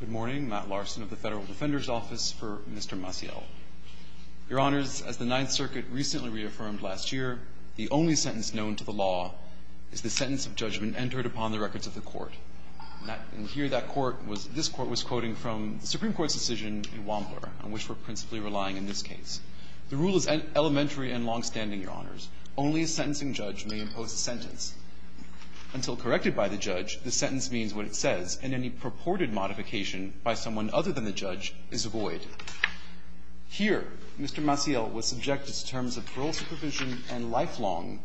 Good morning. Matt Larson of the Federal Defender's Office for Mr. Maciel. Your Honors, as the Ninth Circuit recently reaffirmed last year, the only sentence known to the law is the sentence of judgment entered upon the records of the Court. This Court was quoting from the Supreme Court's decision in Wampler, on which we're principally relying in this case. The rule is elementary and longstanding, Your Honors. Only a sentencing judge may impose a sentence. Until corrected by the judge, the sentence means what it says, and any purported modification by someone other than the judge is void. Here, Mr. Maciel was subjected to terms of parole supervision and lifelong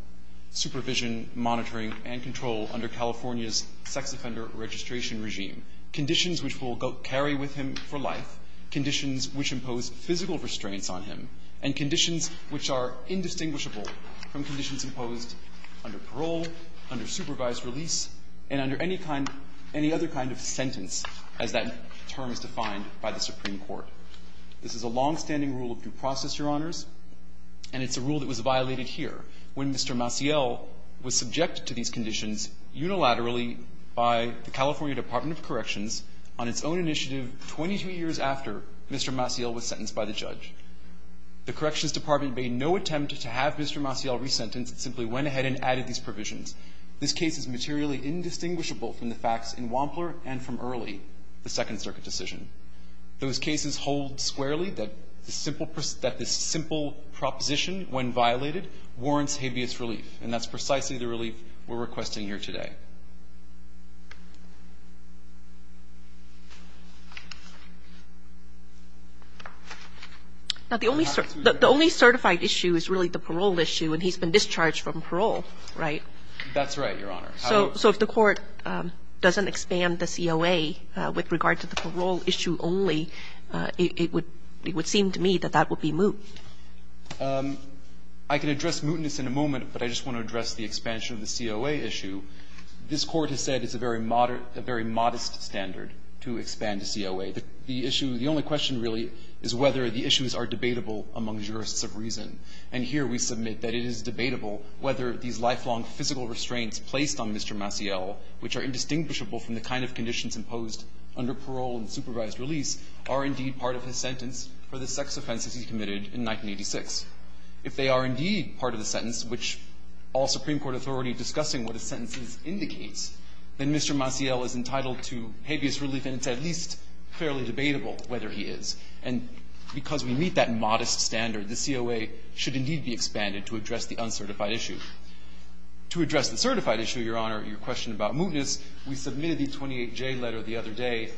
supervision, monitoring, and control under California's sex offender registration regime, conditions which will carry with him for life, conditions which impose physical restraints on him, and conditions which are indistinguishable from conditions imposed under parole, under supervised release, and under any other kind of sentence, as that term is defined by the Supreme Court. This is a longstanding rule of due process, Your Honors, and it's a rule that was violated here, when Mr. Maciel was subjected to these conditions unilaterally by the California Department of Corrections on its own initiative 22 years after Mr. Maciel was sentenced by the judge. The Corrections Department made no attempt to have Mr. Maciel resentenced. It simply went ahead and added these provisions. This case is materially indistinguishable from the facts in Wampler and from early the Second Circuit decision. Those cases hold squarely that this simple proposition, when violated, warrants habeas relief, and that's precisely the relief we're requesting here today. Now, the only certified issue is really the parole issue, and he's been discharged from parole, right? That's right, Your Honor. So if the Court doesn't expand the COA with regard to the parole issue only, it would seem to me that that would be moot. I can address mootness in a moment, but I just want to address the expansion of the COA issue. This Court has said it's a very modest standard to expand the COA. The issue – the only question, really, is whether the issues are debatable among jurists of reason. And here we submit that it is debatable whether these lifelong physical restraints placed on Mr. Maciel, which are indistinguishable from the kind of conditions imposed under parole and supervised release, are indeed part of his sentence for the sex offenses he committed in 1986. If they are indeed part of the sentence, which all Supreme Court authority are discussing what a sentence indicates, then Mr. Maciel is entitled to habeas relief, and it's at least fairly debatable whether he is. And because we meet that modest standard, the COA should indeed be expanded to address the uncertified issue. To address the certified issue, Your Honor, your question about mootness, we submitted the 28J letter the other day,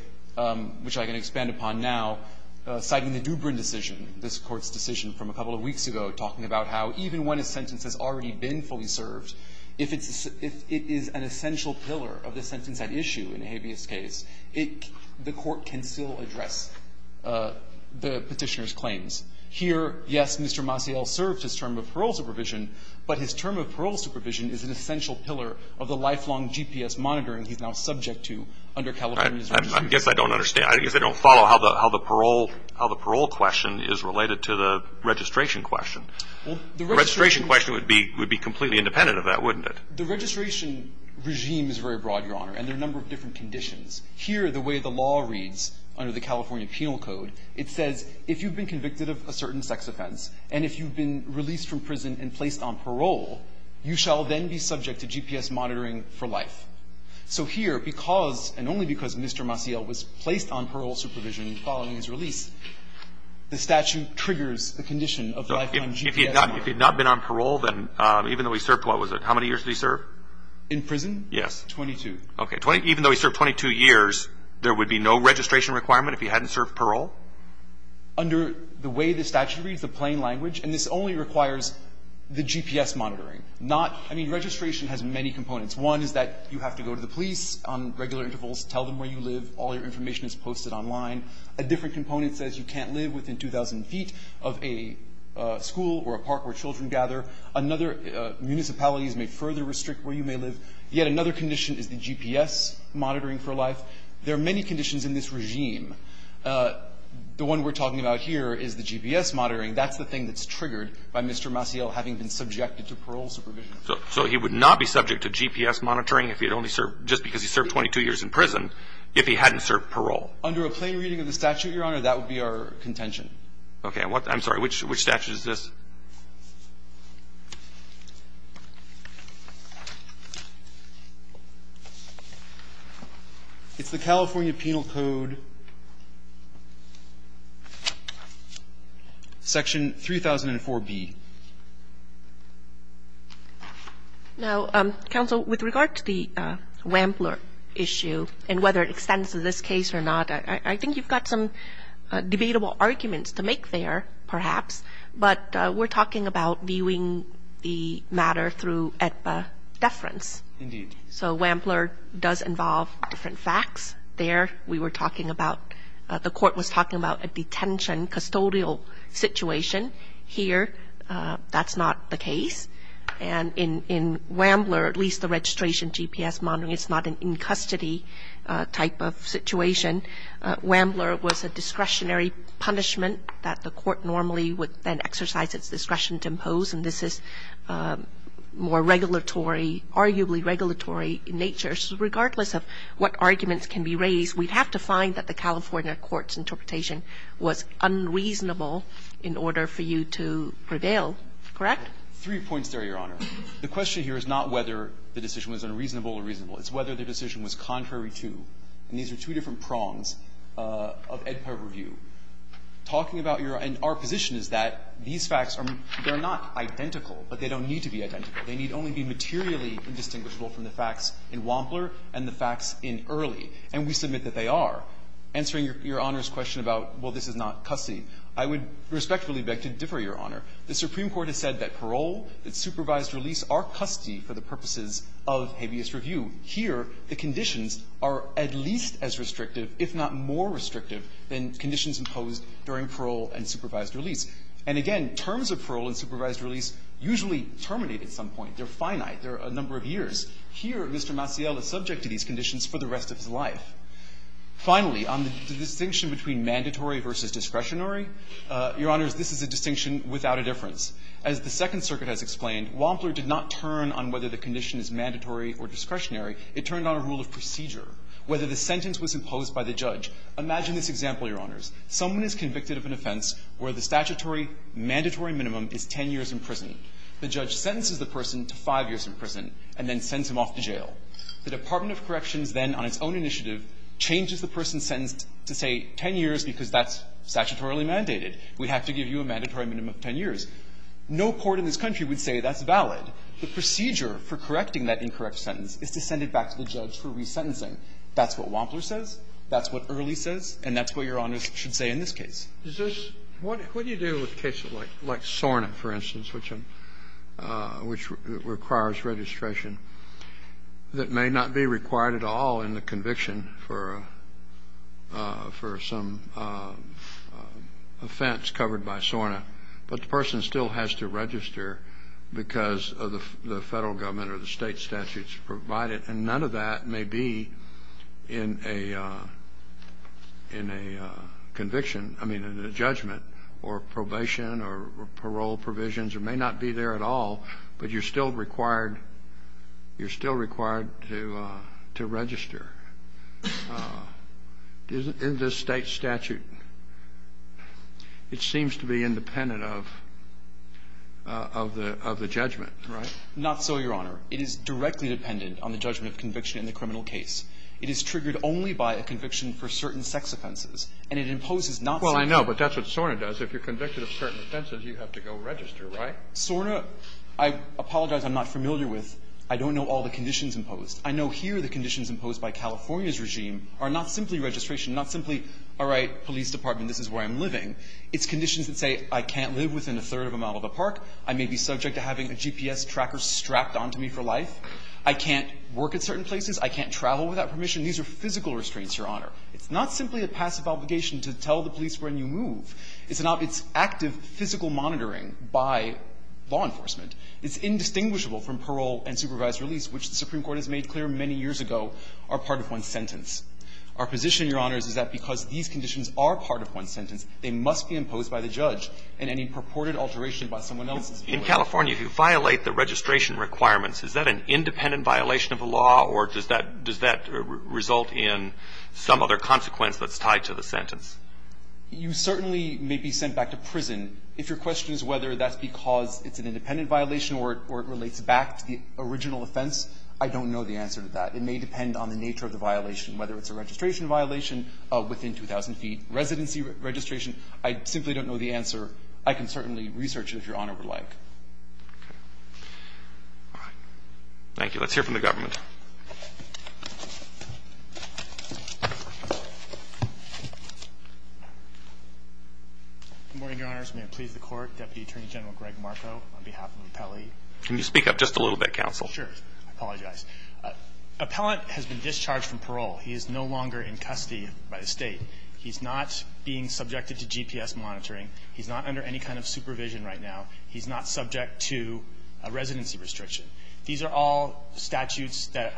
which I can expand upon now, citing the Dubrin decision, this Court's decision from a couple of weeks ago, talking about how even when a sentence has already been fully served, if it's an essential pillar of the sentence at issue in a habeas case, the Court can still address the Petitioner's claims. Here, yes, Mr. Maciel served his term of parole supervision, but his term of parole supervision is an essential pillar of the lifelong GPS monitoring he's now subject to under California's registration. I guess I don't understand. I guess I don't follow how the parole question is related to the registration question. The registration question would be completely independent of that, wouldn't it? The registration regime is very broad, Your Honor, and there are a number of different conditions. Here, the way the law reads under the California Penal Code, it says if you've been convicted of a certain sex offense and if you've been released from prison and placed on parole, you shall then be subject to GPS monitoring for life. So here, because, and only because, Mr. Maciel was placed on parole supervision following his release, the statute triggers the condition of lifetime GPS monitoring. So if he had not been on parole, then even though he served, what was it, how many years did he serve? In prison? Yes. Twenty-two. Okay. Even though he served 22 years, there would be no registration requirement if he hadn't served parole? Under the way the statute reads, the plain language, and this only requires the GPS monitoring. Not, I mean, registration has many components. One is that you have to go to the police on regular intervals, tell them where you live, all your information is posted online. A different component says you can't live within 2,000 feet of a school or a park where children gather. Another, municipalities may further restrict where you may live. Yet another condition is the GPS monitoring for life. There are many conditions in this regime. The one we're talking about here is the GPS monitoring. That's the thing that's triggered by Mr. Maciel having been subjected to parole supervision. So he would not be subject to GPS monitoring if he had only served, just because he served 22 years in prison, if he hadn't served parole. Under a plain reading of the statute, Your Honor, that would be our contention. Okay. I'm sorry. Which statute is this? It's the California Penal Code, Section 3004B. Now, Counsel, with regard to the Wampler issue and whether it extends to this case or not, I think you've got some debatable arguments to make there, perhaps. But we're talking about viewing the matter through AEDPA deference. Indeed. So Wampler does involve different facts. There we were talking about the court was talking about a detention custodial situation. Here, that's not the case. And in Wampler, at least the registration GPS monitoring, it's not an in-custody type of situation. Wampler was a discretionary punishment that the court normally would then exercise its discretion to impose, and this is more regulatory, arguably regulatory in nature. So regardless of what arguments can be raised, we'd have to find that the in order for you to prevail. Correct? Three points there, Your Honor. The question here is not whether the decision was unreasonable or reasonable. It's whether the decision was contrary to. And these are two different prongs of AEDPA review. Talking about your own position is that these facts are not identical, but they don't need to be identical. They need only be materially indistinguishable from the facts in Wampler and the facts in Early. And we submit that they are. Answering Your Honor's question about, well, this is not custody, I would respectfully beg to differ, Your Honor. The Supreme Court has said that parole, that supervised release are custody for the purposes of habeas review. Here, the conditions are at least as restrictive, if not more restrictive, than conditions imposed during parole and supervised release. And again, terms of parole and supervised release usually terminate at some point. They're finite. They're a number of years. Here, Mr. Maciel is subject to these conditions for the rest of his life. Finally, on the distinction between mandatory versus discretionary, Your Honors, this is a distinction without a difference. As the Second Circuit has explained, Wampler did not turn on whether the condition is mandatory or discretionary. It turned on a rule of procedure. Whether the sentence was imposed by the judge, imagine this example, Your Honors. Someone is convicted of an offense where the statutory mandatory minimum is 10 years in prison. The Department of Corrections then, on its own initiative, changes the person's sentence to say 10 years because that's statutorily mandated. We have to give you a mandatory minimum of 10 years. No court in this country would say that's valid. The procedure for correcting that incorrect sentence is to send it back to the judge for resentencing. That's what Wampler says. That's what Early says. And that's what Your Honors should say in this case. Sotomayor What do you do with cases like SORNA, for instance, which requires registration? That may not be required at all in the conviction for some offense covered by SORNA. But the person still has to register because of the federal government or the state statutes provided. And none of that may be in a conviction, I mean, in a judgment or probation or parole provisions. It may not be there at all. But you're still required to register. In this state statute, it seems to be independent of the judgment. Right? Not so, Your Honor. It is directly dependent on the judgment of conviction in the criminal case. It is triggered only by a conviction for certain sex offenses. And it imposes not so. Well, I know, but that's what SORNA does. If you're convicted of certain offenses, you have to go register, right? SORNA, I apologize, I'm not familiar with. I don't know all the conditions imposed. I know here the conditions imposed by California's regime are not simply registration, not simply, all right, police department, this is where I'm living. It's conditions that say I can't live within a third of a mile of a park. I may be subject to having a GPS tracker strapped onto me for life. I can't work at certain places. I can't travel without permission. These are physical restraints, Your Honor. It's not simply a passive obligation to tell the police when you move. It's not. It's active physical monitoring by law enforcement. It's indistinguishable from parole and supervised release, which the Supreme Court has made clear many years ago are part of one sentence. Our position, Your Honors, is that because these conditions are part of one sentence, they must be imposed by the judge. And any purported alteration by someone else is a violation. In California, if you violate the registration requirements, is that an independent violation of the law, or does that result in some other consequence that's tied to the sentence? You certainly may be sent back to prison. If your question is whether that's because it's an independent violation or it relates back to the original offense, I don't know the answer to that. It may depend on the nature of the violation, whether it's a registration violation within 2,000 feet, residency registration. I simply don't know the answer. I can certainly research it, if Your Honor would like. Thank you. Let's hear from the government. Good morning, Your Honors. May it please the Court. Deputy Attorney General Greg Marco on behalf of AppellE. Can you speak up just a little bit, counsel? Sure. I apologize. Appellant has been discharged from parole. He is no longer in custody by the State. He's not being subjected to GPS monitoring. He's not under any kind of supervision right now. He's not subject to a residency restriction. These are all statutes that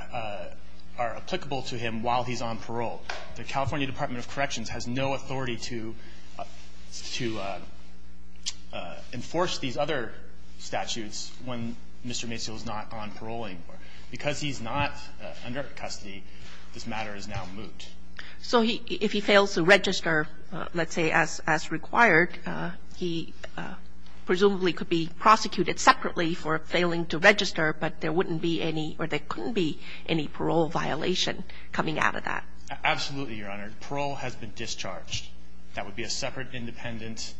are applicable to him while he's on parole. The California Department of Corrections has no authority to enforce these other statutes when Mr. Maciel is not on parole anymore. Because he's not under custody, this matter is now moot. So if he fails to register, let's say, as required, he presumably could be prosecuted separately for failing to register, but there wouldn't be any or there couldn't be any parole violation coming out of that. Absolutely, Your Honor. Parole has been discharged. That would be a separate independent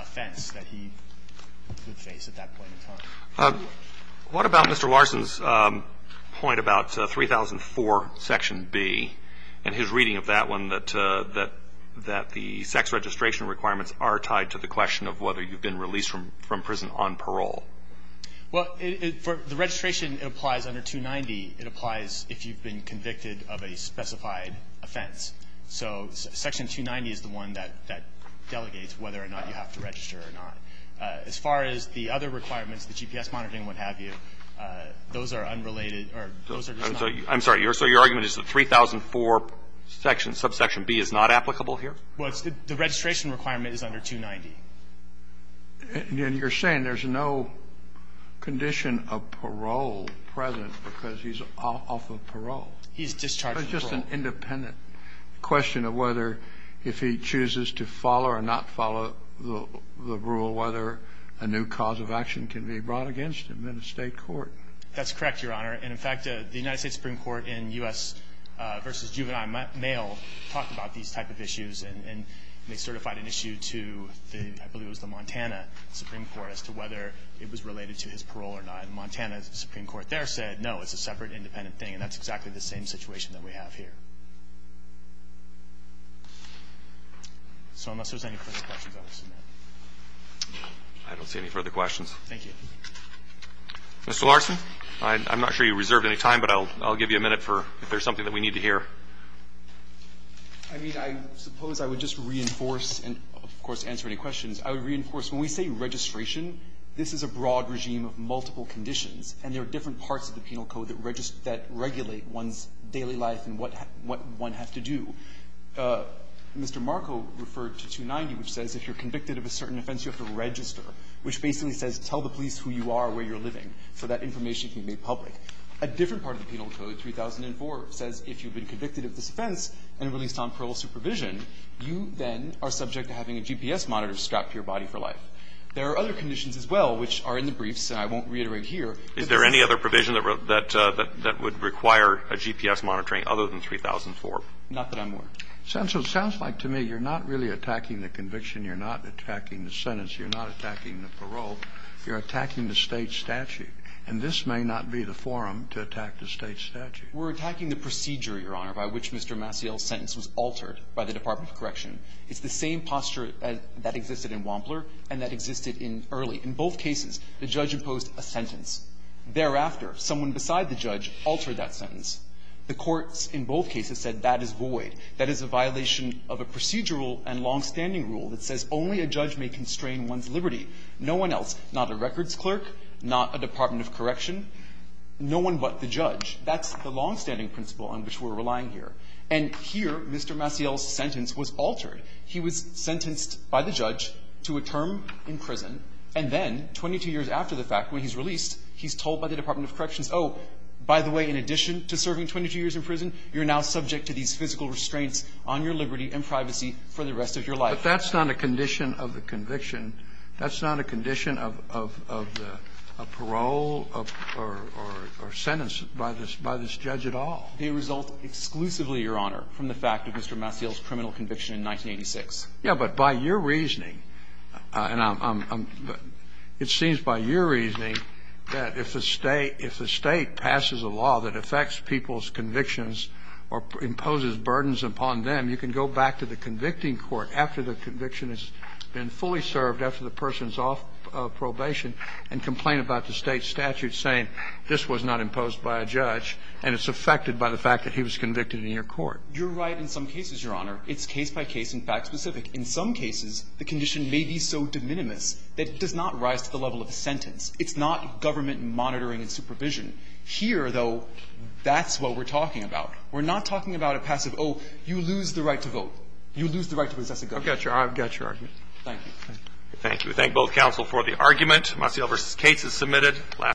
offense that he would face at that point in time. What about Mr. Larson's point about 3004 section B and his reading of that one, that the sex registration requirements are tied to the question of whether you've been released from prison on parole? Well, the registration applies under 290. It applies if you've been convicted of a specified offense. So section 290 is the one that delegates whether or not you have to register or not. As far as the other requirements, the GPS monitoring, what have you, those are unrelated or those are just not. I'm sorry. So your argument is that 3004 subsection B is not applicable here? Well, the registration requirement is under 290. And you're saying there's no condition of parole present because he's off of parole? He's discharged from parole. It's just an independent question of whether, if he chooses to follow or not follow the rule, whether a new cause of action can be brought against him in a State court. That's correct, Your Honor. And, in fact, the United States Supreme Court in U.S. v. Juvenile Mail talked about these type of issues, and they certified an issue to I believe it was the Montana Supreme Court as to whether it was related to his parole or not. And Montana Supreme Court there said, no, it's a separate, independent thing, and that's exactly the same situation that we have here. So unless there's any further questions, I will submit. I don't see any further questions. Thank you. Mr. Larson, I'm not sure you reserved any time, but I'll give you a minute if there's something that we need to hear. I mean, I suppose I would just reinforce, and of course answer any questions, I would reinforce when we say registration, this is a broad regime of multiple conditions, and there are different parts of the Penal Code that regulate one's daily life and what one has to do. Mr. Marco referred to 290, which says if you're convicted of a certain offense, you have to register, which basically says tell the police who you are, where you're living, so that information can be made public. A different part of the Penal Code, 3004, says if you've been convicted of this offense and released on parole supervision, you then are subject to having a GPS monitor strapped to your body for life. There are other conditions as well, which are in the briefs, and I won't reiterate here. Is there any other provision that would require a GPS monitoring other than 3004? Not that I'm aware of. It sounds like to me you're not really attacking the conviction. You're not attacking the sentence. You're not attacking the parole. You're attacking the State statute. And this may not be the forum to attack the State statute. We're attacking the procedure, Your Honor, by which Mr. Maciel's sentence was altered by the Department of Correction. It's the same posture that existed in Wampler and that existed in Early. In both cases, the judge imposed a sentence. Thereafter, someone beside the judge altered that sentence. The courts in both cases said that is void. That is a violation of a procedural and longstanding rule that says only a judge may constrain one's liberty. No one else, not a records clerk, not a Department of Correction, no one but the judge. That's the longstanding principle on which we're relying here. And here, Mr. Maciel's sentence was altered. He was sentenced by the judge to a term in prison, and then 22 years after the fact, when he's released, he's told by the Department of Corrections, oh, by the way, in addition to serving 22 years in prison, you're now subject to these physical restraints on your liberty and privacy for the rest of your life. But that's not a condition of the conviction. That's not a condition of the parole or sentence by this judge at all. It results exclusively, Your Honor, from the fact of Mr. Maciel's criminal conviction in 1986. Yes, but by your reasoning, and it seems by your reasoning that if the State passes a law that affects people's convictions or imposes burdens upon them, you can go back to the convicting court after the conviction has been fully served, after the person is off probation, and complain about the State statute saying this was not imposed by a judge, and it's affected by the fact that he was convicted in your court. You're right in some cases, Your Honor. It's case-by-case and fact-specific. In some cases, the condition may be so de minimis that it does not rise to the level of a sentence. It's not government monitoring and supervision. Here, though, that's what we're talking about. We're not talking about a passive, oh, you lose the right to vote. You lose the right to possess a gun. I've got your argument. Thank you. Thank you. We thank both counsel for the argument. Maciel v. Cates is submitted.